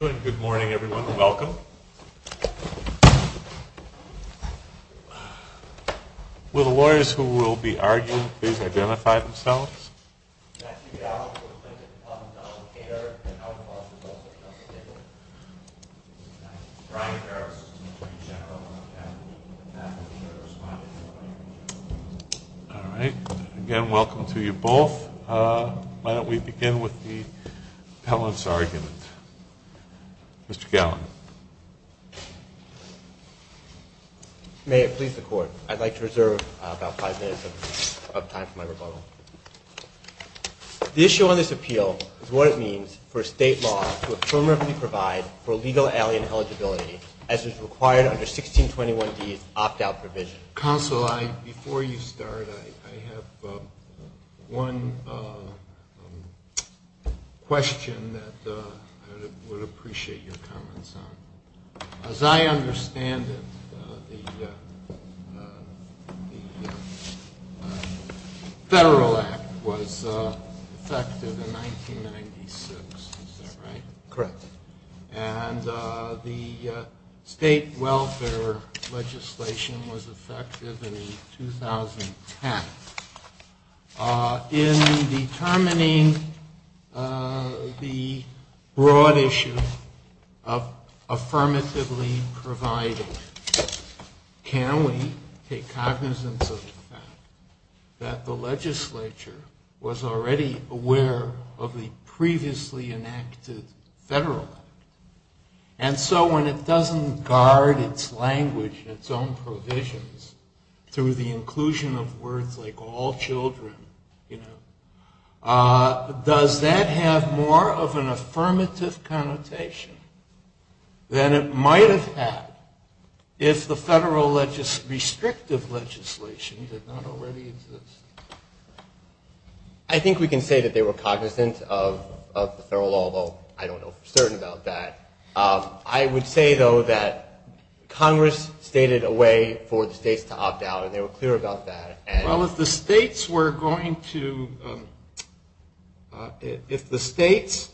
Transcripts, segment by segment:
Good morning everyone, welcome. Will the lawyers who will be arguing please identify themselves. Matthew Gallin for the plaintiff's defendant Donald Kaider and I'll call the defendant. Brian Harris for the attorney general. All right, again welcome to you both. Why don't we begin with the appellant's argument. Mr. Gallin. May it please the court, I'd like to reserve about five minutes of time for my rebuttal. The issue on this appeal is what it means for state law to affirmatively provide for legal alien eligibility as is required under 1621D's opt-out provision. Counsel, before you start I have one question that I would appreciate your comments on. As I understand it, the Federal Act was effected in 1996, is that right? Correct. And the state welfare legislation was effected in 2010. In determining the broad issue of affirmatively providing, can we take cognizance of the fact that the legislature was already aware of the previously enacted federal And so when it doesn't guard its language and its own provisions through the inclusion of words like all children, does that have more of an affirmative connotation than it might have had if the federal restrictive legislation did not already exist? I think we can say that they were cognizant of the federal law, although I don't know for certain about that. I would say, though, that Congress stated a way for the states to opt out and they were clear about that. Well, if the states were going to, if the states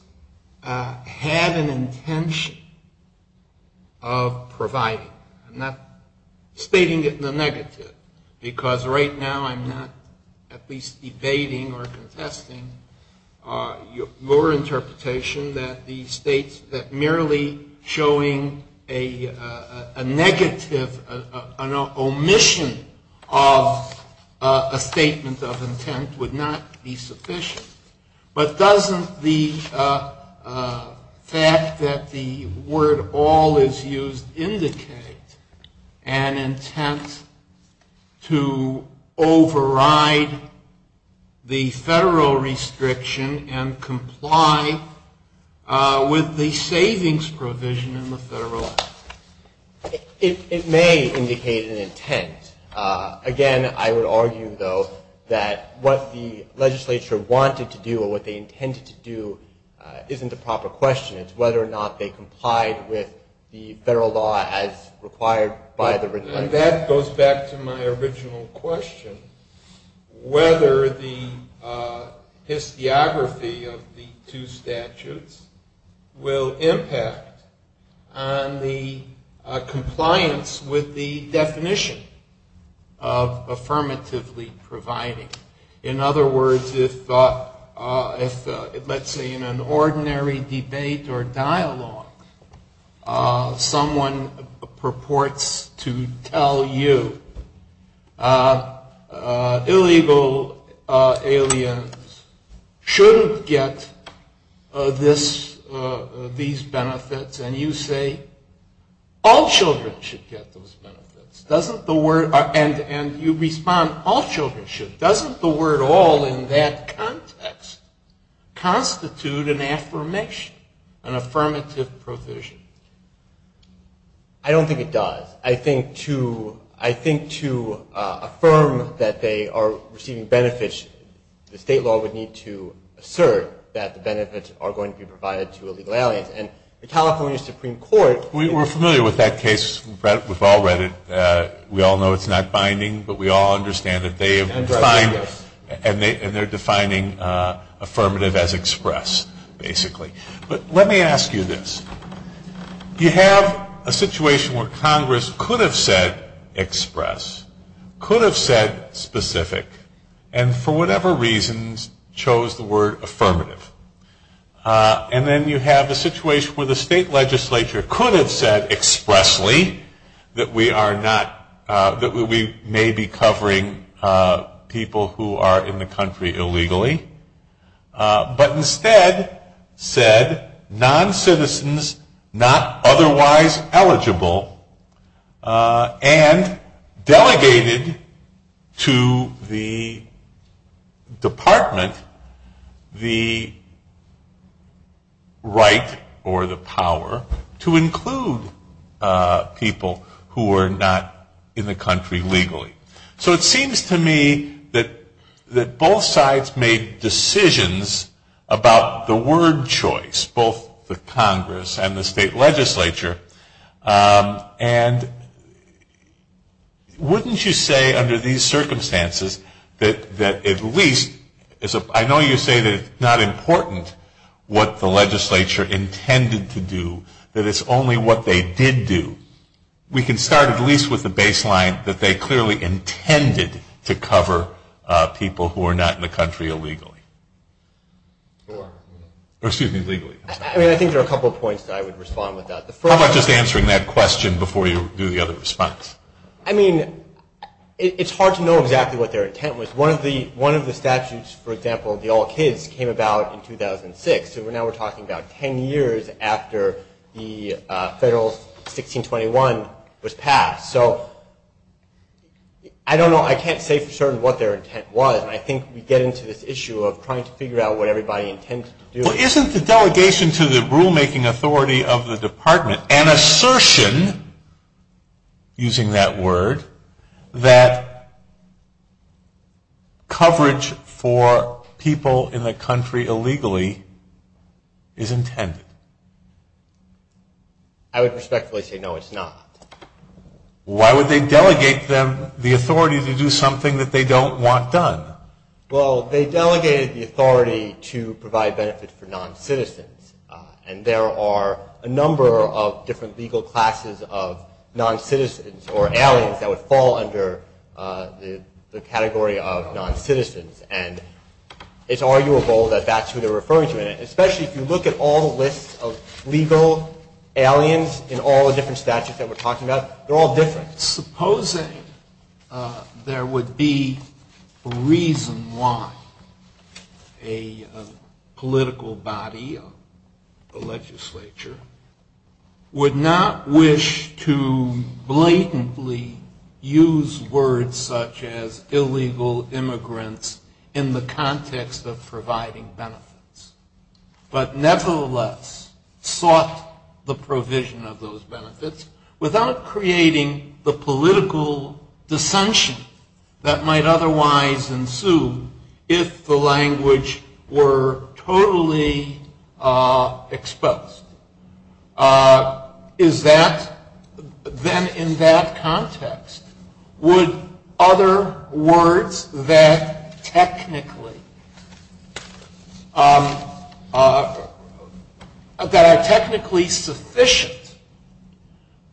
had an intention of providing, I'm not stating it in the negative, because right now I'm not at least debating or contesting your interpretation that the states, that merely showing a negative, an omission of the federal a statement of intent would not be sufficient. But doesn't the fact that the word all is used indicate an intent to override the federal restriction and comply with the savings provision in the federal act? It may indicate an intent. Again, I would argue, though, that what the legislature wanted to do or what they intended to do isn't a proper question. It's whether or not they complied with the federal law as required by the written language. And that goes back to my original question, whether the historiography of the two statutes will impact on the compliance with the definition of affirmatively providing. In other words, if, let's say, in an ordinary debate or dialogue, someone purports to tell you, illegal aliens shouldn't get these benefits, and you say, all children should get those benefits. And you respond, all children should. Doesn't the word all in that context constitute an affirmation, an affirmative provision? I don't think it does. I think to affirm that they are receiving benefits, the state law would need to assert that the benefits are going to be provided to illegal aliens. We're familiar with that case. We've all read it. We all know it's not binding, but we all understand that they have defined, and they're defining affirmative as express, basically. But let me ask you this. You have a situation where Congress could have said express, could have said specific, and for whatever reasons chose the word affirmative. And then you have a situation where the state legislature could have said expressly that we may be covering people who are in the country illegally, but instead said non-citizens not otherwise eligible, and delegated to the department the right or the power to include people who are not in the country legally. So it seems to me that both sides made decisions about the word choice, both the Congress and the state legislature. And wouldn't you say under these circumstances that at least, I know you say that it's not important what the legislature intended to do, that it's only what they did do. We can start at least with the baseline that they clearly intended to cover people who are not in the country illegally. Or excuse me, legally. I mean, I think there are a couple of points that I would respond with that. How about just answering that question before you do the other response? I mean, it's hard to know exactly what their intent was. One of the statutes, for example, the All Kids, came about in 2006. So now we're talking about ten years after the federal 1621 was passed. So I don't know. I can't say for certain what their intent was. And I think we get into this issue of trying to figure out what everybody intended to do. Well, isn't the delegation to the rulemaking authority of the department an assertion, using that word, that coverage for people in the country illegally is intended? I would respectfully say no, it's not. Why would they delegate them the authority to do something that they don't want done? Well, they delegated the authority to provide benefits for non-citizens. And there are a number of different legal classes of non-citizens or aliens that would fall under the category of non-citizens. And it's arguable that that's who they're referring to. And especially if you look at all the lists of legal aliens in all the different statutes that we're talking about, they're all different. In fact, supposing there would be a reason why a political body, a legislature, would not wish to blatantly use words such as illegal immigrants in the context of providing benefits, but nevertheless sought the provision of those benefits without creating the political dissension that might otherwise ensue if the language were totally exposed. Is that, then, in that context, would other words that technically, that are technically sufficient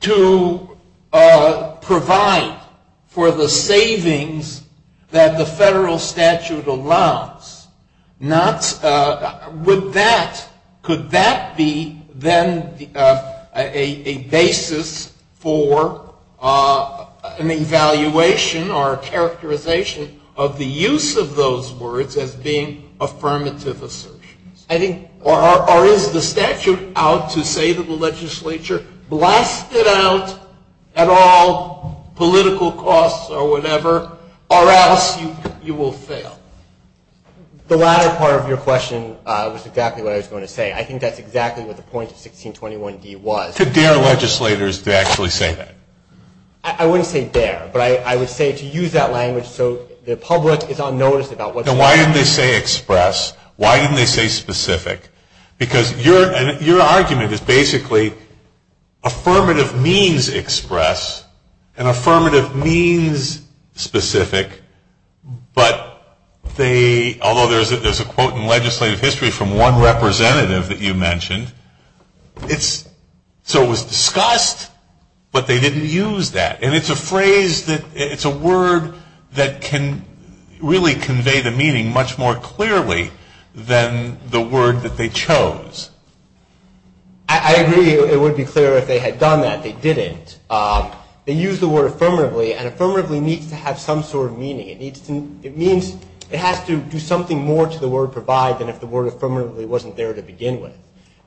to provide for the savings that the federal statute allows not, could that be, then, a basis for an evaluation or characterization of the use of those words as being affirmative assertions? Or is the statute out to say that the legislature blasted out at all political costs or whatever, or else you will fail? The latter part of your question was exactly what I was going to say. I think that's exactly what the point of 1621D was. To dare legislators to actually say that? I wouldn't say dare, but I would say to use that language so the public is on notice about what's going on. Now, why didn't they say express? Why didn't they say specific? Because your argument is basically affirmative means express and affirmative means specific, but they, although there's a quote in legislative history from one representative that you mentioned, it's, so it was discussed, but they didn't use that. And it's a phrase that, it's a word that can really convey the meaning much more clearly than the word that they chose. I agree it would be clear if they had done that. They didn't. They used the word affirmatively, and affirmatively needs to have some sort of meaning. It needs to, it means, it has to do something more to the word provide than if the word affirmatively wasn't there to begin with.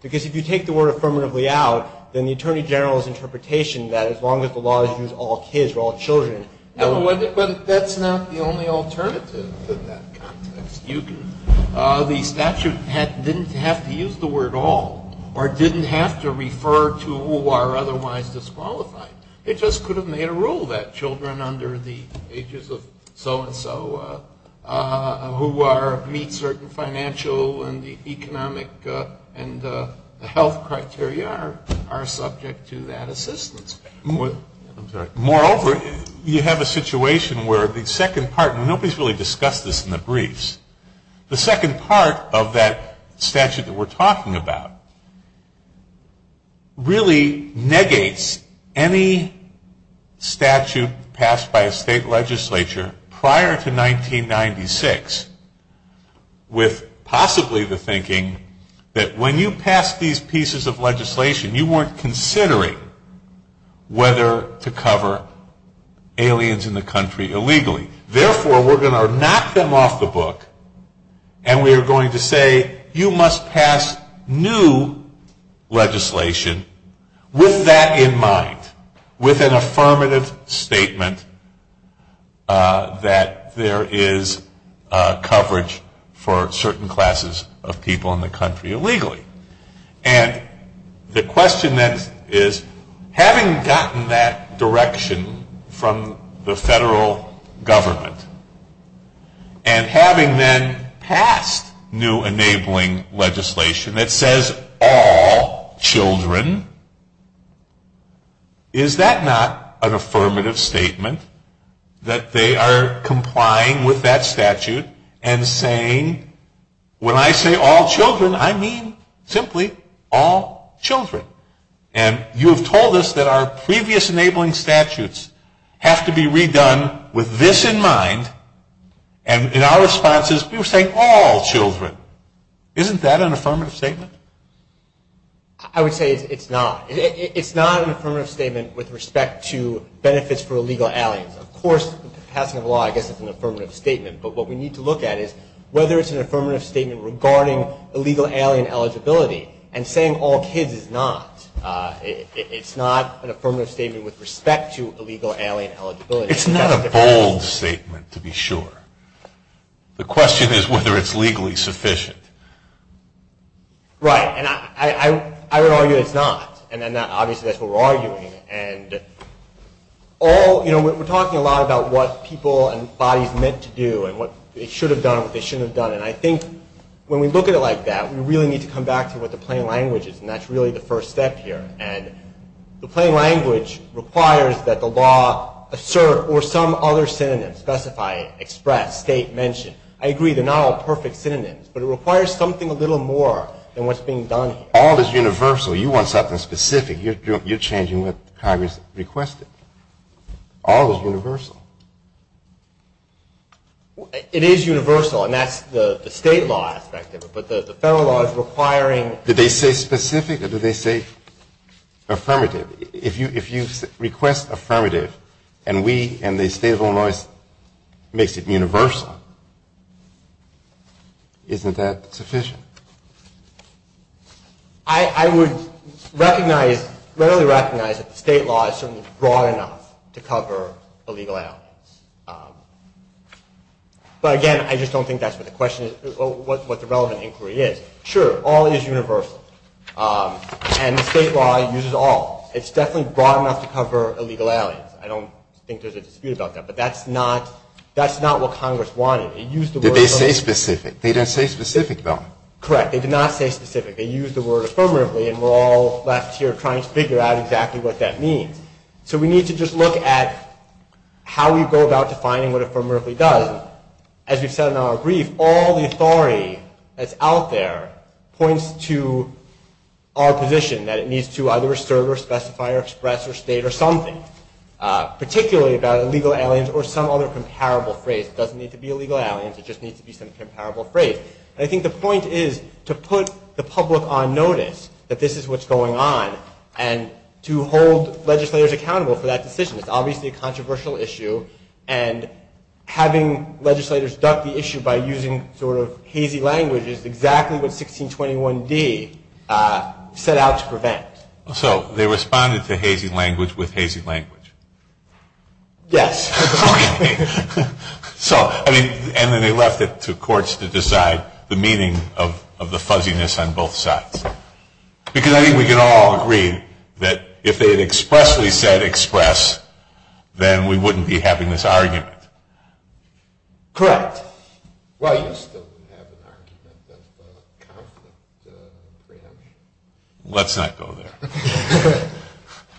Because if you take the word affirmatively out, then the Attorney General's interpretation that as long as the law is used to all kids or all children. But that's not the only alternative in that context. The statute didn't have to use the word all or didn't have to refer to who are otherwise disqualified. It just could have made a rule that children under the ages of so and so who are, meet certain financial and economic and health criteria are subject to that assistance. Moreover, you have a situation where the second part, and nobody's really discussed this in the briefs. The second part of that statute that we're talking about really negates any statute passed by a state legislature prior to 1996 with possibly the thinking that when you pass these pieces of legislation, you weren't considering whether to cover aliens in the country illegally. Therefore, we're going to knock them off the book, and we are going to say you must pass new legislation with that in mind. With an affirmative statement that there is coverage for certain classes of people in the country illegally. And the question then is, having gotten that direction from the federal government, and having then passed new enabling legislation that says all children, is that not an affirmative statement? That they are complying with that statute and saying when I say all children, I mean simply all children. And you have told us that our previous enabling statutes have to be redone with this in mind, and in our responses we were saying all children. Isn't that an affirmative statement? I would say it's not. It's not an affirmative statement with respect to benefits for illegal aliens. Of course, passing a law I guess is an affirmative statement. But what we need to look at is whether it's an affirmative statement regarding illegal alien eligibility. And saying all kids is not. It's not an affirmative statement with respect to illegal alien eligibility. It's not a bold statement to be sure. The question is whether it's legally sufficient. Right. And I would argue it's not. And obviously that's what we're arguing. And we're talking a lot about what people and bodies meant to do and what they should have done and what they shouldn't have done. And I think when we look at it like that, we really need to come back to what the plain language is. And that's really the first step here. And the plain language requires that the law assert or some other synonym, specify, express, state, mention. I agree they're not all perfect synonyms. But it requires something a little more than what's being done here. All is universal. You want something specific. You're changing what Congress requested. All is universal. It is universal. And that's the state law aspect of it. But the federal law is requiring. Did they say specific or did they say affirmative? If you request affirmative and we and the state of Illinois makes it universal, isn't that sufficient? I would recognize, readily recognize that the state law is certainly broad enough to cover the legal elements. But again, I just don't think that's what the question is, what the relevant inquiry is. Sure, all is universal. And the state law uses all. It's definitely broad enough to cover illegal aliens. I don't think there's a dispute about that. But that's not what Congress wanted. Did they say specific? They didn't say specific, though. Correct. They did not say specific. They used the word affirmatively. And we're all left here trying to figure out exactly what that means. So we need to just look at how we go about defining what affirmatively does. As we've said in our brief, all the authority that's out there points to our position, that it needs to either serve or specify or express or state or something, particularly about illegal aliens or some other comparable phrase. It doesn't need to be illegal aliens. It just needs to be some comparable phrase. And I think the point is to put the public on notice that this is what's going on and to hold legislators accountable for that decision. It's obviously a controversial issue. And having legislators duck the issue by using sort of hazy language is exactly what 1621D set out to prevent. So they responded to hazy language with hazy language? Yes. Okay. So, I mean, and then they left it to courts to decide the meaning of the fuzziness on both sides. Because I think we can all agree that if they had expressly said express, then we wouldn't be having this argument. Correct. Well, you still would have an argument of conflict preemption. Let's not go there.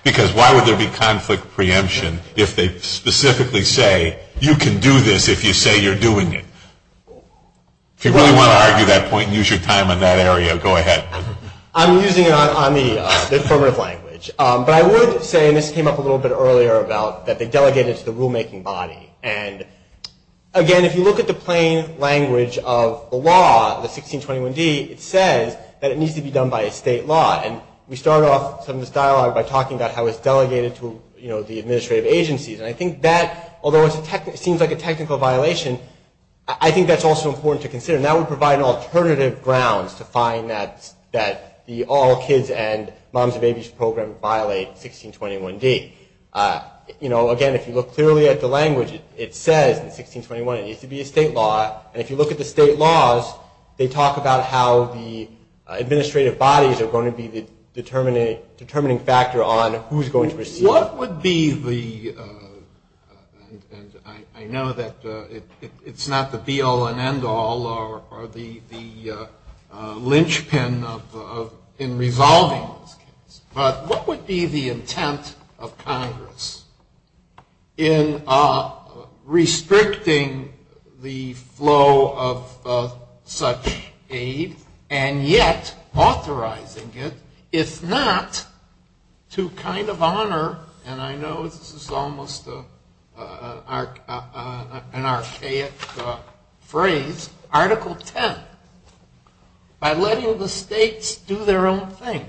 Because why would there be conflict preemption if they specifically say, you can do this if you say you're doing it? If you really want to argue that point and use your time on that area, go ahead. I'm using it on the affirmative language. But I would say, and this came up a little bit earlier, that they delegated it to the rulemaking body. And, again, if you look at the plain language of the law, the 1621D, it says that it needs to be done by a state law. And we start off some of this dialogue by talking about how it's delegated to the administrative agencies. And I think that, although it seems like a technical violation, I think that's also important to consider. And that would provide an alternative grounds to find that the All Kids and Moms and Babies Program violate 1621D. Again, if you look clearly at the language, it says in 1621 it needs to be a state law. And if you look at the state laws, they talk about how the administrative bodies are going to be the determining factor on who's going to receive it. So what would be the, and I know that it's not the be-all and end-all or the linchpin in resolving this case, but what would be the intent of Congress in restricting the flow of such aid and yet authorizing it, if not to kind of honor, and I know this is almost an archaic phrase, Article 10, by letting the states do their own thing.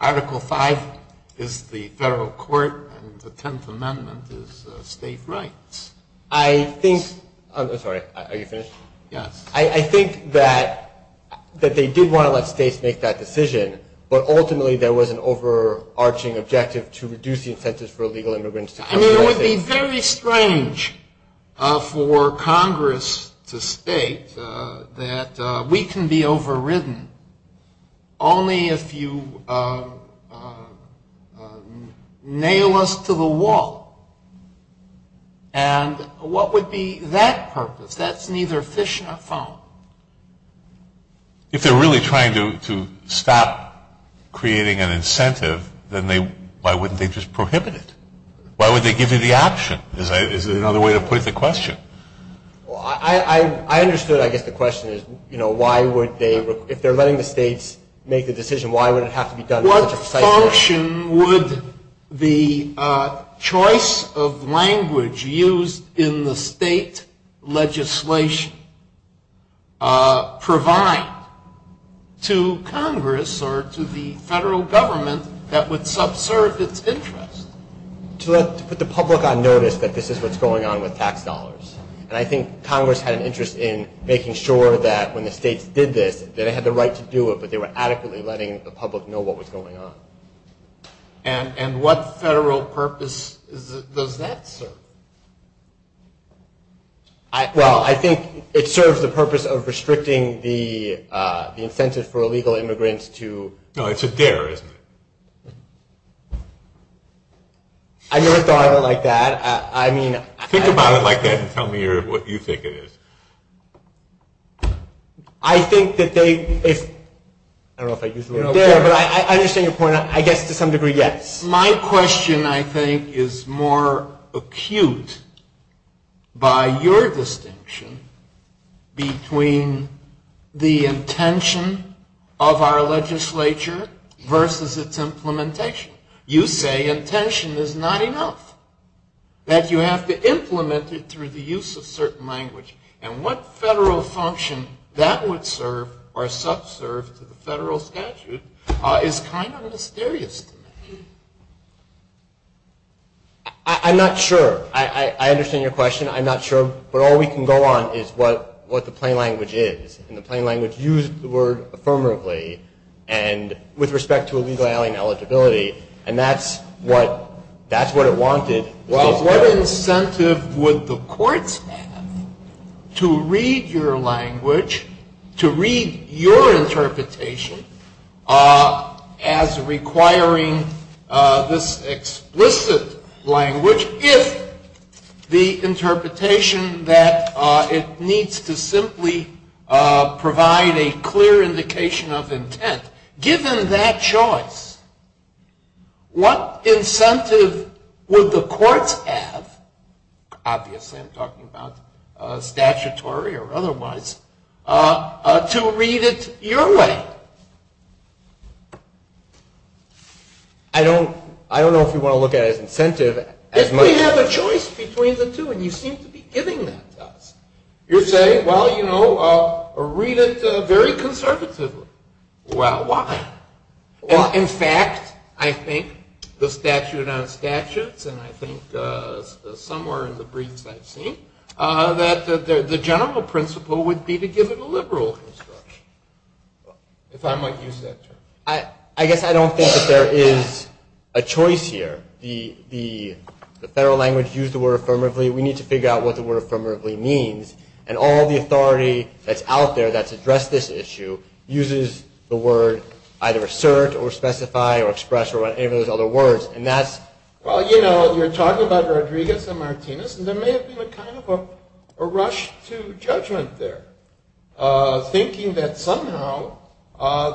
Article 5 is the federal court and the 10th Amendment is state rights. I think, I'm sorry, are you finished? Yes. I think that they did want to let states make that decision, but ultimately there was an overarching objective to reduce the incentives for illegal immigrants to come to the United States. It would be very strange for Congress to state that we can be overridden only if you nail us to the wall. And what would be that purpose? That's neither fish nor phone. If they're really trying to stop creating an incentive, then why wouldn't they just prohibit it? Why would they give you the option? Is there another way to put it to question? Well, I understood, I guess, the question is, you know, why would they, if they're letting the states make the decision, why would it have to be done in such a precise manner? What direction would the choice of language used in the state legislation provide to Congress or to the federal government that would subserve its interest? To put the public on notice that this is what's going on with tax dollars. And I think Congress had an interest in making sure that when the states did this, that they had the right to do it, but they were adequately letting the public know what was going on. And what federal purpose does that serve? Well, I think it serves the purpose of restricting the incentive for illegal immigrants to. No, it's a dare, isn't it? I never thought of it like that. Think about it like that and tell me what you think it is. I think that they, if, I don't know if I used the word dare, but I understand your point. I guess to some degree, yes. My question, I think, is more acute by your distinction between the intention of our legislature versus its implementation. You say intention is not enough, that you have to implement it through the use of certain language. And what federal function that would serve or subserve to the federal statute is kind of mysterious to me. I'm not sure. I understand your question. I'm not sure. But all we can go on is what the plain language is. And the plain language used the word affirmatively and with respect to illegal alien eligibility. And that's what it wanted. Well, what incentive would the courts have to read your language, to read your interpretation, as requiring this explicit language if the interpretation that it needs to simply provide a clear indication of intent. Given that choice, what incentive would the courts have, obviously I'm talking about statutory or otherwise, to read it your way? I don't know if you want to look at it as incentive. We have a choice between the two, and you seem to be giving that to us. You're saying, well, you know, read it very conservatively. Well, why? In fact, I think the statute on statutes, and I think somewhere in the briefs I've seen, that the general principle would be to give it a liberal construction, if I might use that term. I guess I don't think that there is a choice here. The federal language used the word affirmatively. And all the authority that's out there that's addressed this issue uses the word either assert or specify or express or whatever those other words. Well, you know, you're talking about Rodriguez and Martinez, and there may have been a kind of a rush to judgment there, thinking that somehow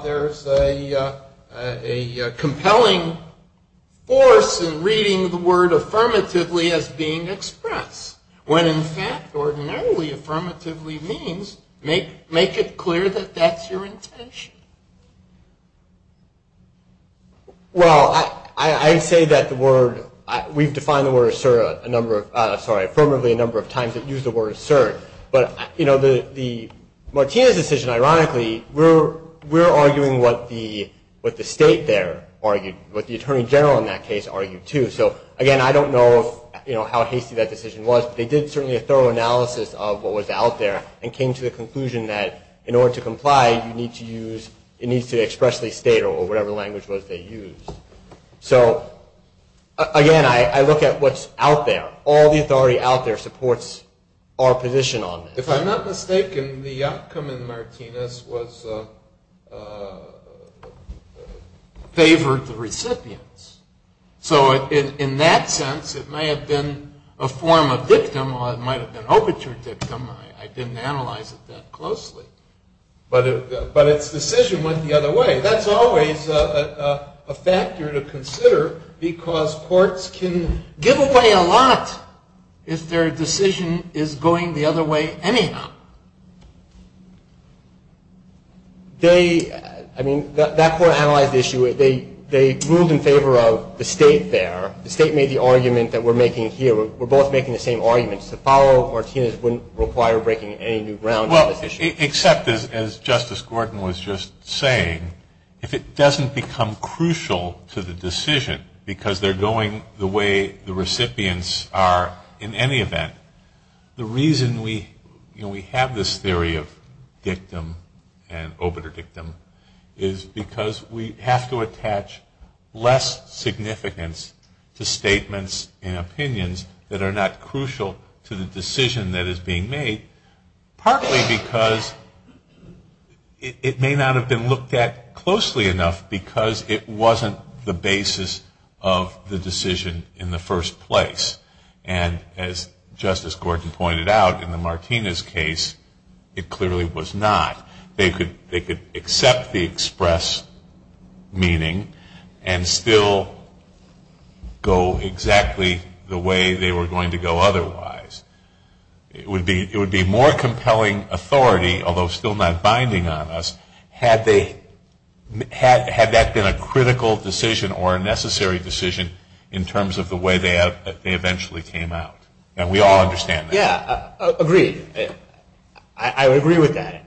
there's a compelling force in reading the word affirmatively as being expressed, when, in fact, ordinarily affirmatively means make it clear that that's your intention. Well, I say that the word, we've defined the word assert a number of, sorry, affirmatively a number of times that use the word assert. But, you know, the Martinez decision, ironically, we're arguing what the state there argued, what the attorney general in that case argued, too. So, again, I don't know, you know, how hasty that decision was, but they did certainly a thorough analysis of what was out there and came to the conclusion that, in order to comply, you need to use, it needs to express the state or whatever language was they used. So, again, I look at what's out there. All the authority out there supports our position on this. If I'm not mistaken, the outcome in Martinez was favored the recipients. So, in that sense, it may have been a form of dictum or it might have been overture dictum. I didn't analyze it that closely. But its decision went the other way. That's always a factor to consider because courts can give away a lot if their decision is going the other way anyhow. They, I mean, that court analyzed the issue. They ruled in favor of the state there. The state made the argument that we're making here. We're both making the same arguments. To follow Martinez wouldn't require breaking any new ground on this issue. Well, except, as Justice Gordon was just saying, if it doesn't become crucial to the decision because they're going the way the recipients are in any event, the reason we have this theory of dictum and overture dictum is because we have to attach less significance to statements and opinions that are not crucial to the decision that is being made, partly because it may not have been looked at closely enough because it wasn't the basis of the decision in the first place. And as Justice Gordon pointed out, in the Martinez case, it clearly was not. They could accept the express meaning and still go exactly the way they were going to go otherwise. It would be more compelling authority, although still not binding on us, had that been a critical decision or a necessary decision in terms of the way they eventually came out. And we all understand that. Yeah, agreed. I would agree with that.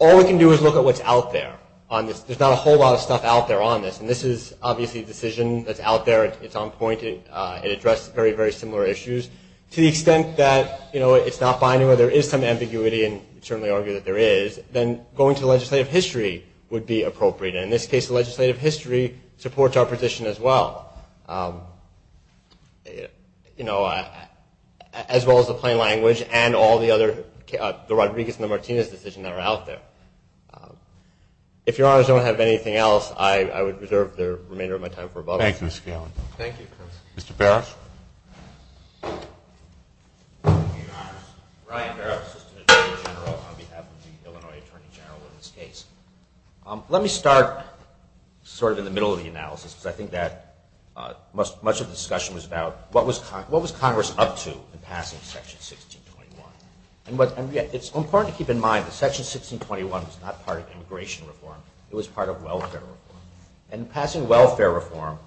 All we can do is look at what's out there. There's not a whole lot of stuff out there on this. And this is obviously a decision that's out there. It's on point. It addressed very, very similar issues to the extent that it's not binding where there is some ambiguity, and you certainly argue that there is, then going to legislative history would be appropriate. And in this case, the legislative history supports our position as well, as well as the plain language and all the other, the Rodriguez and the Martinez decision that are out there. If Your Honors don't have anything else, I would reserve the remainder of my time for rebuttal. Thank you, Mr. Gallant. Thank you. Mr. Parrish. Thank you, Your Honors. Ryan Parrish, Assistant Attorney General on behalf of the Illinois Attorney General in this case. Let me start sort of in the middle of the analysis, because I think that much of the discussion was about what was Congress up to in passing Section 1621. And it's important to keep in mind that Section 1621 was not part of immigration reform. It was part of welfare reform. And in passing welfare reform,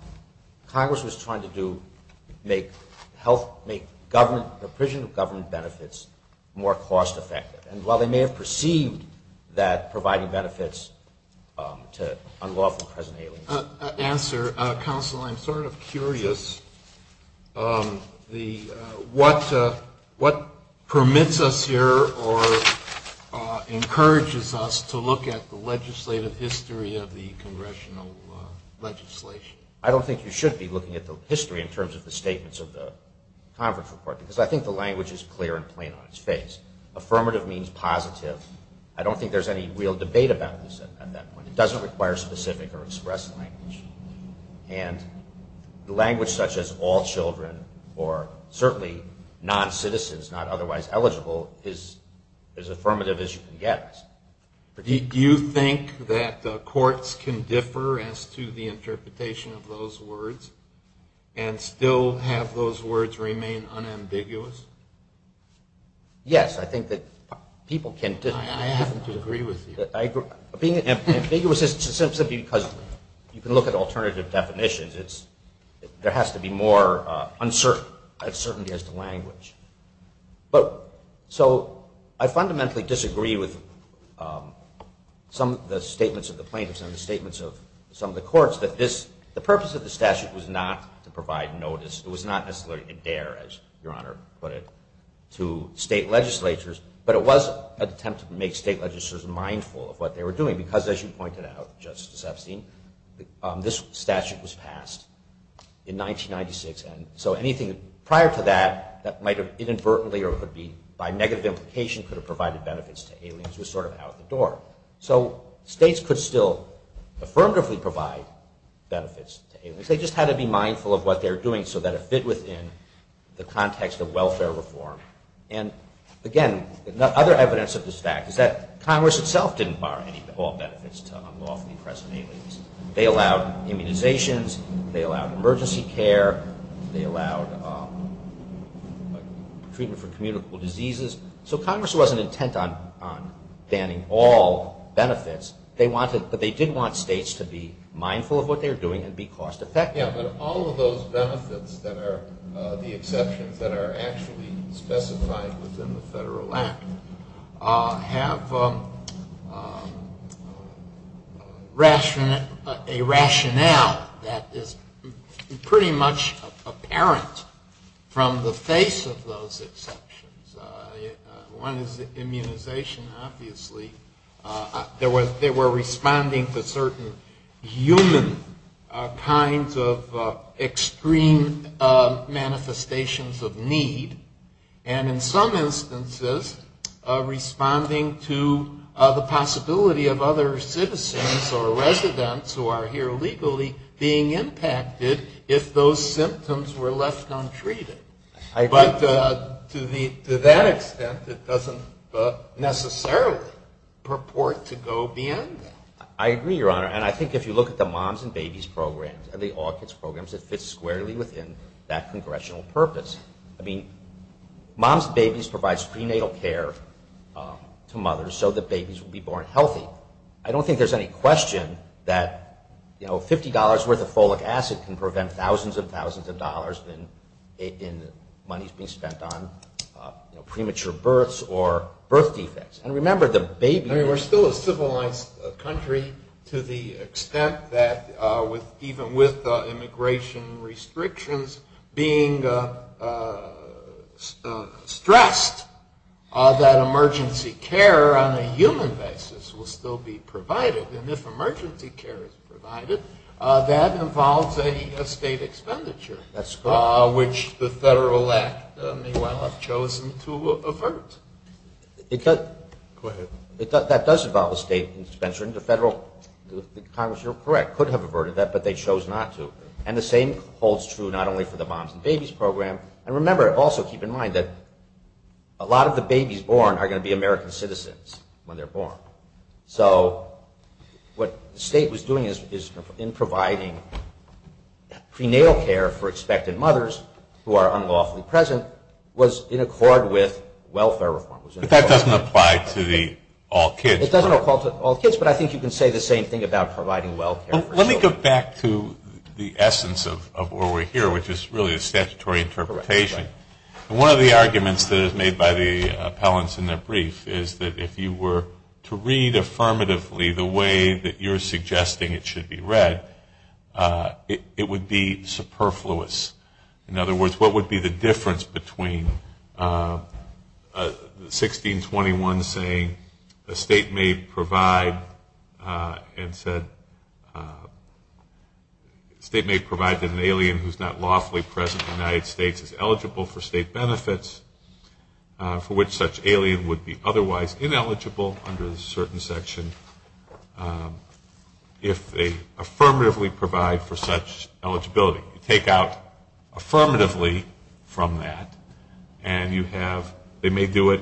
Congress was trying to make government, the provision of government benefits more cost effective. And while they may have perceived that providing benefits to unlawful and present aliens. Answer. Counsel, I'm sort of curious what permits us here or encourages us to look at the legislative history of the congressional legislation. I don't think you should be looking at the history in terms of the statements of the conference report, because I think the language is clear and plain on its face. Affirmative means positive. I don't think there's any real debate about this at that point. It doesn't require specific or express language. And language such as all children or certainly non-citizens not otherwise eligible is as affirmative as you can get. Do you think that courts can differ as to the interpretation of those words and still have those words remain unambiguous? Yes, I think that people can differ. I happen to agree with you. Being ambiguous is simply because you can look at alternative definitions. There has to be more uncertainty as to language. So I fundamentally disagree with some of the statements of the plaintiffs and the statements of some of the courts that the purpose of the statute was not to provide notice. It was not necessarily a dare, as Your Honor put it, to state legislatures. But it was an attempt to make state legislatures mindful of what they were doing, because as you pointed out, Justice Epstein, this statute was passed in 1996. So anything prior to that that might have inadvertently or could be by negative implication could have provided benefits to aliens was sort of out the door. So states could still affirmatively provide benefits to aliens. They just had to be mindful of what they were doing so that it fit within the context of welfare reform. And, again, other evidence of this fact is that Congress itself didn't borrow any benefits to unlawfully imprison aliens. They allowed immunizations. They allowed emergency care. They allowed treatment for communicable diseases. So Congress wasn't intent on banning all benefits. But they did want states to be mindful of what they were doing and be cost-effective. Yeah, but all of those benefits that are the exceptions that are actually specified within the Federal Act have a rationale that is pretty much apparent from the face of those exceptions. One is immunization, obviously. They were responding to certain human kinds of extreme manifestations of need, and in some instances responding to the possibility of other citizens or residents who are here legally being impacted if those symptoms were left untreated. But to that extent, it doesn't necessarily purport to go beyond that. I agree, Your Honor. And I think if you look at the Moms and Babies programs and the All Kids programs, it fits squarely within that congressional purpose. I mean, Moms and Babies provides prenatal care to mothers so that babies will be born healthy. I don't think there's any question that, you know, money is being spent on premature births or birth defects. And remember, the baby… I mean, we're still a civilized country to the extent that even with immigration restrictions being stressed, that emergency care on a human basis will still be provided. And if emergency care is provided, that involves a state expenditure… That's correct. …which the federal act may well have chosen to avert. Go ahead. That does involve a state expenditure, and the federal… Congress, you're correct, could have averted that, but they chose not to. And the same holds true not only for the Moms and Babies program. And remember, also keep in mind that a lot of the babies born are going to be American citizens when they're born. So what the state was doing in providing prenatal care for expectant mothers who are unlawfully present was in accord with welfare reform. But that doesn't apply to the all kids program. It doesn't apply to all kids, but I think you can say the same thing about providing welfare. Let me go back to the essence of where we're here, which is really a statutory interpretation. One of the arguments that is made by the appellants in their brief is that if you were to read affirmatively the way that you're suggesting it should be read, it would be superfluous. In other words, what would be the difference between 1621 saying, the state may provide an alien who's not lawfully present in the United States is eligible for state benefits, for which such alien would be otherwise ineligible under a certain section, if they affirmatively provide for such eligibility. You take out affirmatively from that and you have, they may do it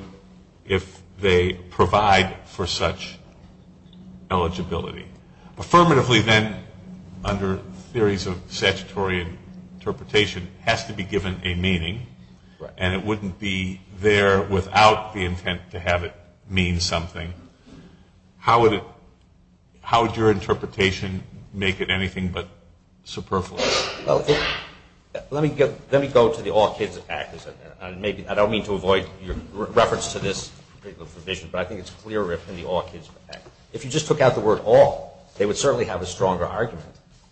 if they provide for such eligibility. Affirmatively then under theories of statutory interpretation has to be given a meaning and it wouldn't be there without the intent to have it mean something. How would your interpretation make it anything but superfluous? Let me go to the All Kids Act. I don't mean to avoid your reference to this particular provision, but I think it's clearer in the All Kids Act. If you just took out the word all, they would certainly have a stronger argument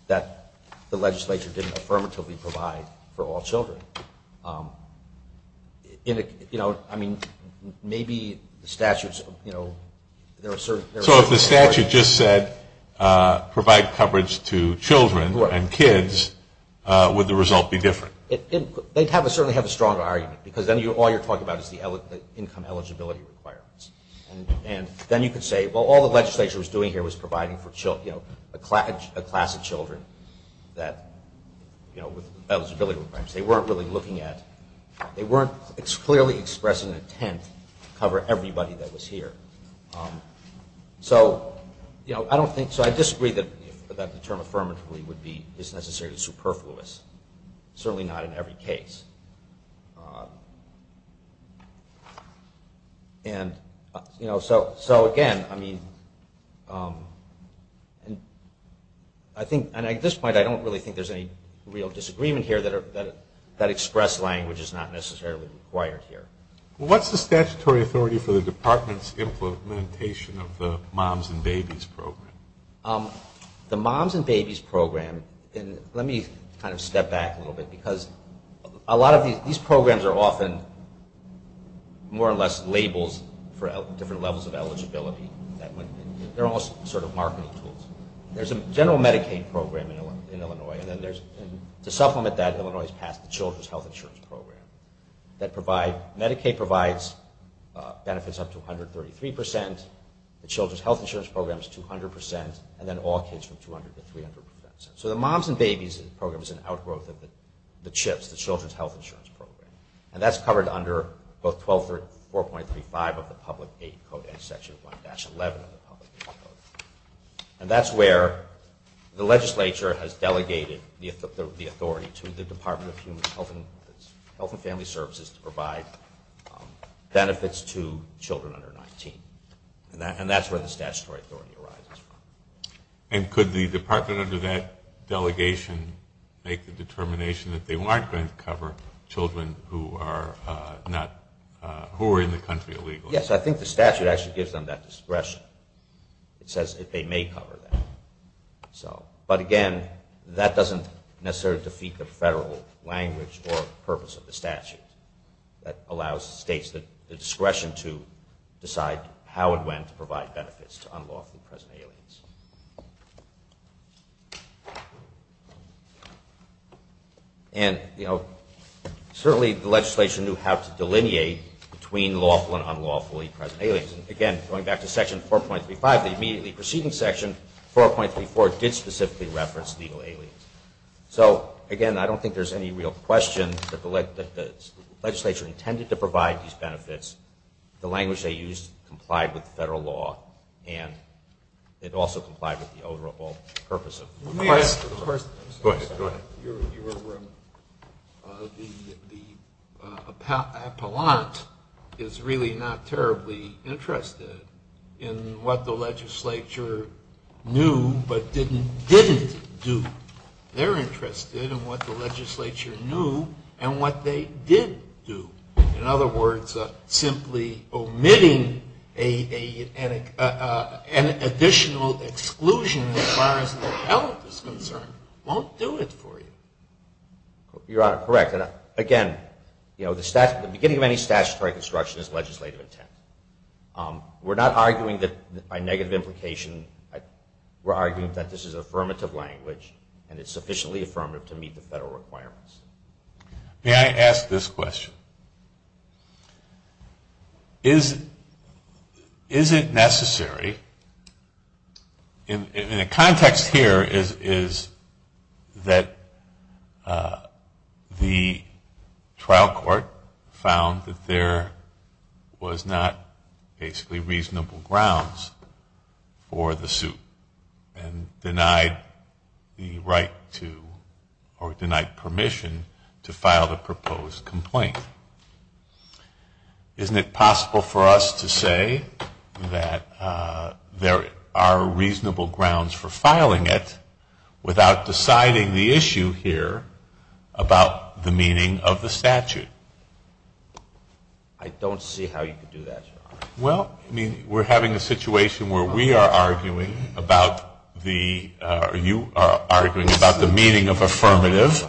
that the legislature didn't affirmatively provide for all children. I mean, maybe the statutes, there are certain... So if the statute just said provide coverage to children and kids, would the result be different? They'd certainly have a stronger argument because then all you're talking about is the income eligibility requirements. Then you could say, well, all the legislature was doing here was providing for a class of children with eligibility requirements. They weren't really looking at... They weren't clearly expressing intent to cover everybody that was here. So I disagree that the term affirmatively is necessarily superfluous. Certainly not in every case. And so again, I mean... At this point, I don't really think there's any real disagreement here that express language is not necessarily required here. What's the statutory authority for the department's implementation of the Moms and Babies Program? The Moms and Babies Program... Let me kind of step back a little bit because a lot of these programs are often more or less labels for different levels of eligibility. They're almost sort of marketing tools. There's a general Medicaid program in Illinois. To supplement that, Illinois has passed the Children's Health Insurance Program. Medicaid provides benefits up to 133 percent. The Children's Health Insurance Program is 200 percent. And then all kids from 200 to 300 percent. So the Moms and Babies Program is an outgrowth of the CHIPS, the Children's Health Insurance Program. And that's covered under both 4.35 of the Public Aid Code and Section 1-11 of the Public Aid Code. And that's where the legislature has delegated the authority to the Department of Human Health and Family Services to provide benefits to children under 19. And that's where the statutory authority arises from. And could the department under that delegation make the determination that they weren't going to cover children who are in the country illegally? Yes, I think the statute actually gives them that discretion. It says that they may cover that. But again, that doesn't necessarily defeat the federal language or purpose of the statute. That allows states the discretion to decide how and when to provide benefits to unlawfully present aliens. And certainly the legislation knew how to delineate between lawful and unlawfully present aliens. And again, going back to Section 4.35, the immediately preceding Section 4.34 did specifically reference legal aliens. So again, I don't think there's any real question that the legislature intended to provide these benefits. The language they used complied with federal law. And it also complied with the overall purpose of the statute. Go ahead. The appellant is really not terribly interested in what the legislature knew but didn't do. They're interested in what the legislature knew and what they did do. In other words, simply omitting an additional exclusion as far as the appellant is concerned won't do it for you. Your Honor, correct. Again, the beginning of any statutory construction is legislative intent. We're not arguing that by negative implication. We're arguing that this is affirmative language and it's sufficiently affirmative to meet the federal requirements. May I ask this question? Is it necessary, in the context here is that the trial court found that there was not basically reasonable grounds for the suit and denied the right to or denied permission to file the proposed complaint. Isn't it possible for us to say that there are reasonable grounds for filing it without deciding the issue here about the meaning of the statute? I don't see how you could do that, Your Honor. Well, I mean, we're having a situation where we are arguing about the or you are arguing about the meaning of affirmative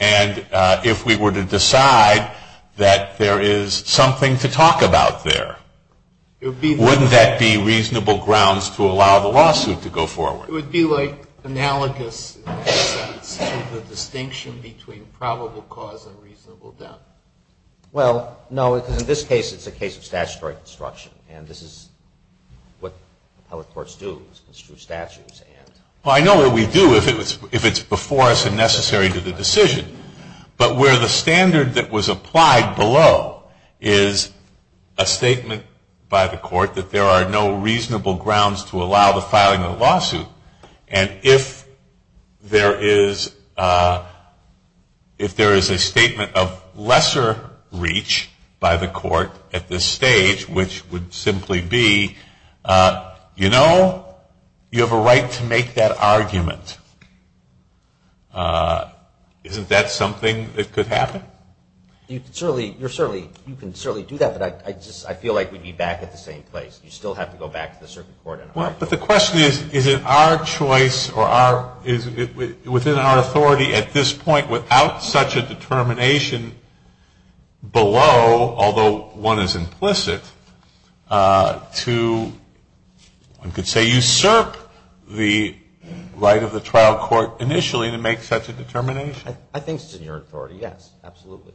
and if we were to decide that there is something to talk about there, wouldn't that be reasonable grounds to allow the lawsuit to go forward? It would be like analogous in a sense to the distinction between probable cause and reasonable doubt. Well, no, because in this case it's a case of statutory construction and this is what appellate courts do is construe statutes. I know what we do if it's before us and necessary to the decision, but where the standard that was applied below is a statement by the court that there are no reasonable grounds to allow the filing of the lawsuit and if there is a statement of lesser reach by the court at this stage, which would simply be, you know, you have a right to make that argument, isn't that something that could happen? You can certainly do that, but I feel like we'd be back at the same place. You'd still have to go back to the circuit court and argue. But the question is, is it our choice or within our authority at this point without such a determination below, although one is implicit, to one could say usurp the right of the trial court initially to make such a determination? I think it's in your authority, yes, absolutely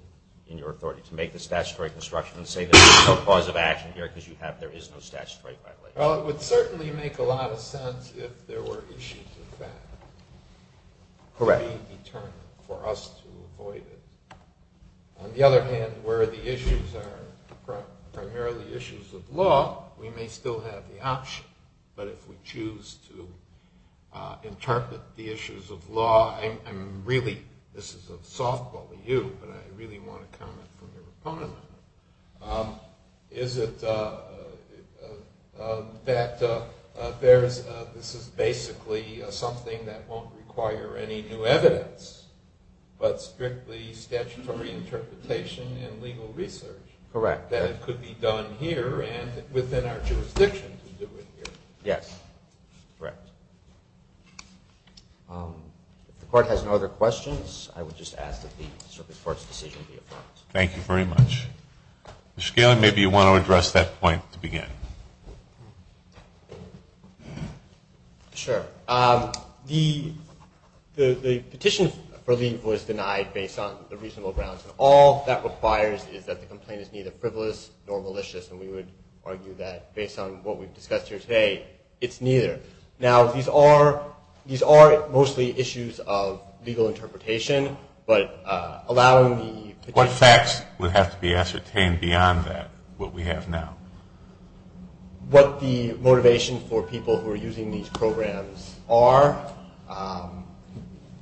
in your authority to make the statutory construction and say there is no cause of action here because there is no statutory violation. Well, it would certainly make a lot of sense if there were issues of fact being determined for us to avoid it. On the other hand, where the issues are primarily issues of law, we may still have the option, but if we choose to interpret the issues of law, I'm really, this is a softball to you, but I really want to comment from your opponent. Is it that this is basically something that won't require any new evidence, but strictly statutory interpretation and legal research? Correct. That it could be done here and within our jurisdiction to do it here? Yes, correct. If the court has no other questions, I would just ask that the circuit court's decision be approved. Thank you very much. Mr. Galen, maybe you want to address that point to begin. Sure. The petition for leave was denied based on the reasonable grounds, and all that requires is that the complaint is neither frivolous nor malicious, and we would argue that based on what we've discussed here today, it's neither. Now, these are mostly issues of legal interpretation, but allowing the petitioner to What facts would have to be ascertained beyond that, what we have now? What the motivation for people who are using these programs are.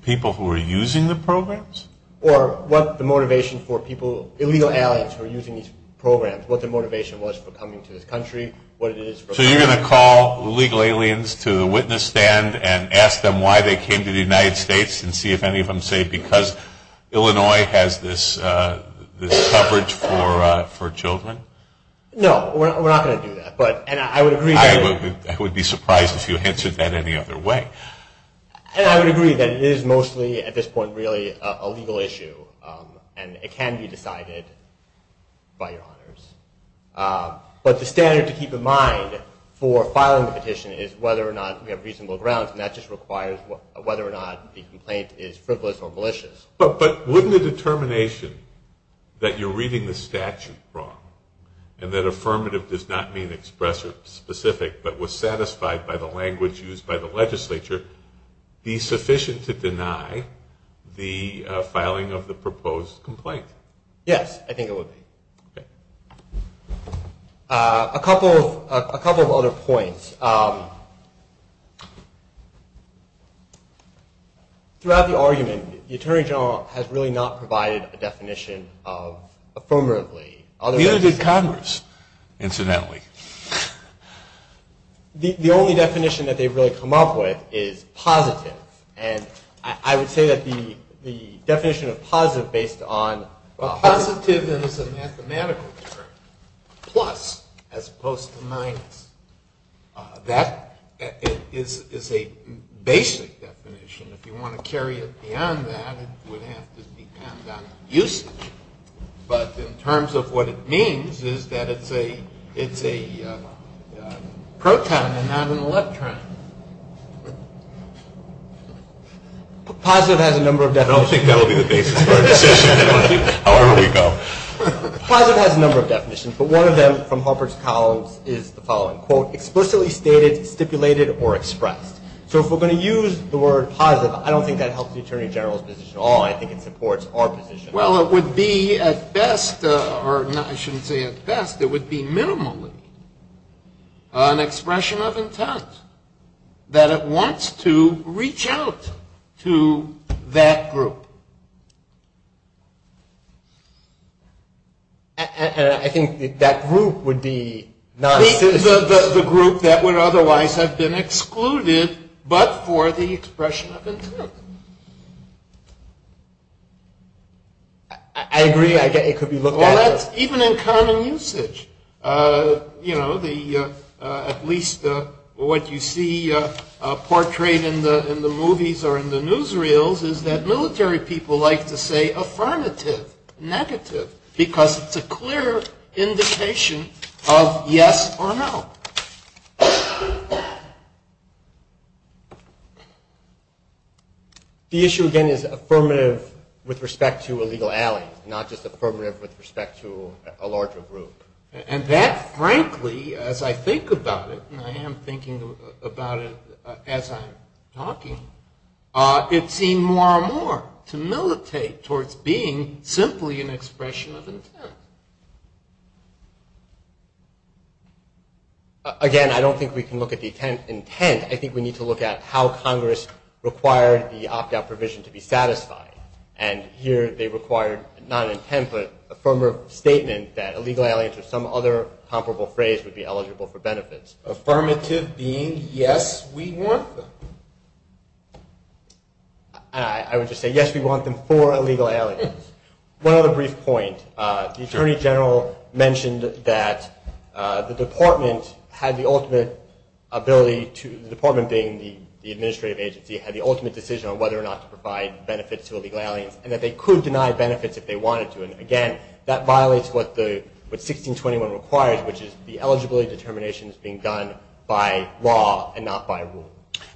People who are using the programs? Or what the motivation for people, illegal aliens who are using these programs, what the motivation was for coming to this country, what it is for So you're going to call illegal aliens to the witness stand and ask them why they came to the United States and see if any of them say because Illinois has this coverage for children? No, we're not going to do that. And I would agree that I would be surprised if you answered that any other way. And I would agree that it is mostly, at this point, really a legal issue, and it can be decided by your honors. But the standard to keep in mind for filing the petition is whether or not we have reasonable grounds, and that just requires whether or not the complaint is frivolous or malicious. But wouldn't the determination that you're reading the statute wrong and that affirmative does not mean expressive specific, but was satisfied by the language used by the legislature, be sufficient to deny the filing of the proposed complaint? Yes, I think it would be. A couple of other points. Throughout the argument, the Attorney General has really not provided a definition of affirmatively. Neither did Congress, incidentally. The only definition that they've really come up with is positive. And I would say that the definition of positive based on Well, positive is a mathematical term. Plus, as opposed to minus. That is a basic definition. If you want to carry it beyond that, it would have to depend on usage. But in terms of what it means is that it's a proton and not an electron. Positive has a number of definitions. I don't think that will be the basis of our decision, however you go. Positive has a number of definitions, but one of them from Halpert's columns is the following. Quote, explicitly stated, stipulated, or expressed. So if we're going to use the word positive, I don't think that helps the Attorney General's position at all. Well, it would be at best, or I shouldn't say at best, it would be minimally. An expression of intent. That it wants to reach out to that group. And I think that group would be not The group that would otherwise have been excluded, but for the expression of intent. I agree. I get it. It could be looked at. Well, that's even in common usage. You know, at least what you see portrayed in the movies or in the newsreels is that military people like to say affirmative, negative. Because it's a clear indication of yes or no. The issue, again, is affirmative with respect to a legal ally, not just affirmative with respect to a larger group. And that, frankly, as I think about it, and I am thinking about it as I'm talking, it seems more and more to militate towards being simply an expression of intent. Again, I don't think we can look at the intent. I think we need to look at how Congress required the opt-out provision to be satisfied. And here they required, not intent, but a firmer statement that a legal ally to some other comparable phrase would be eligible for benefits. Affirmative being yes, we want them. I would just say yes, we want them for a legal ally. One other brief point. The Attorney General mentioned that the Department had the ultimate ability to, the Department being the administrative agency, had the ultimate decision on whether or not to provide benefits to a legal ally, and that they could deny benefits if they wanted to. And, again, that violates what 1621 requires, which is the eligibility determination is being done by law and not by rule.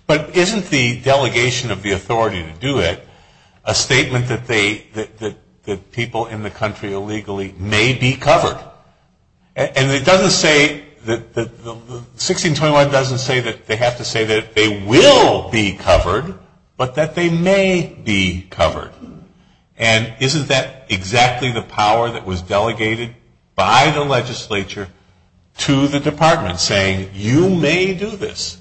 But isn't the delegation of the authority to do it a statement that people in the country eligible for benefits? And it doesn't say, 1621 doesn't say that they have to say that they will be covered, but that they may be covered. And isn't that exactly the power that was delegated by the legislature to the Department, saying you may do this?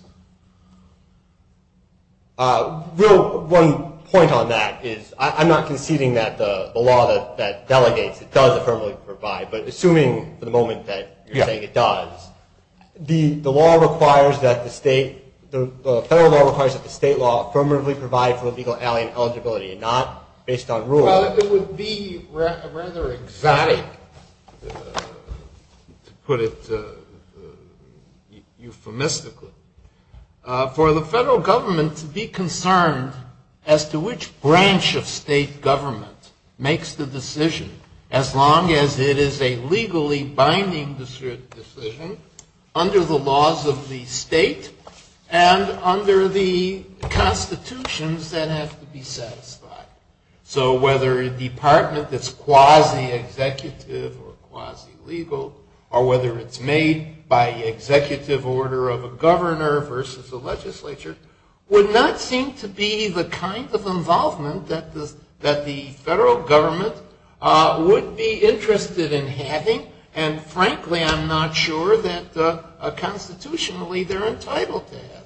One point on that is I'm not conceding that the law that delegates, it doesn't, it doesn't affirmatively provide, but assuming for the moment that you're saying it does, the law requires that the state, the federal law requires that the state law affirmatively provide for the legal ally in eligibility and not based on rule. Well, it would be rather exotic, to put it euphemistically, for the federal government to be concerned as to which branch of state government makes the decision as long as the federal government makes the decision as long as it is a legally binding decision under the laws of the state and under the constitutions that have to be satisfied. So whether a department that's quasi-executive or quasi-legal, or whether it's made by executive order of a governor versus a legislature, would not seem to be the kind of involvement that the federal government would be interested in. And frankly, I'm not sure that constitutionally they're entitled to have that.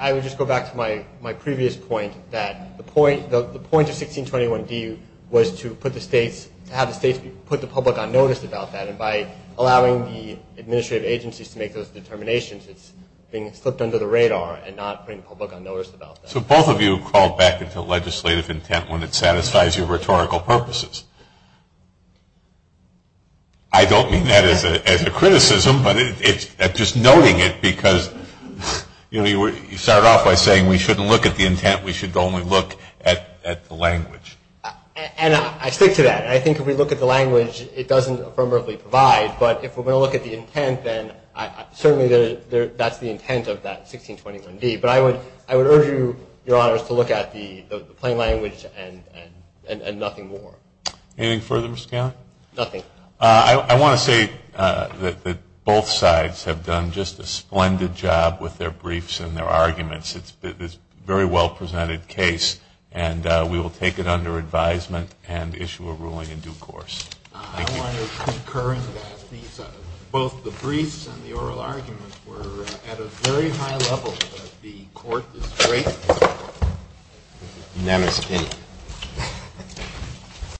I would just go back to my previous point that the point of 1621D was to put the states, to have the states put the public on notice about that. And by allowing the administrative agencies to make those determinations, it's being slipped under the radar and not putting the public on notice about that. So both of you crawled back into legislative intent when it satisfies your rhetorical purposes. I don't mean that as a criticism, but just noting it, because you started off by saying we shouldn't look at the intent, we should only look at the language. And I stick to that. And I think if we look at the language, it doesn't affirmatively provide, but if we're going to look at the intent, then certainly that's the intent of that 1621D. But I would urge you, Your Honors, to look at the plain language and nothing more. Anything further, Mr. Gallagher? Nothing. I want to say that both sides have done just a splendid job with their briefs and their arguments. It's a very well-presented case, and we will take it under advisement and issue a ruling in due course. Thank you. I want to concur in that both the briefs and the oral arguments were at a very high level, and the court is great. Namaste.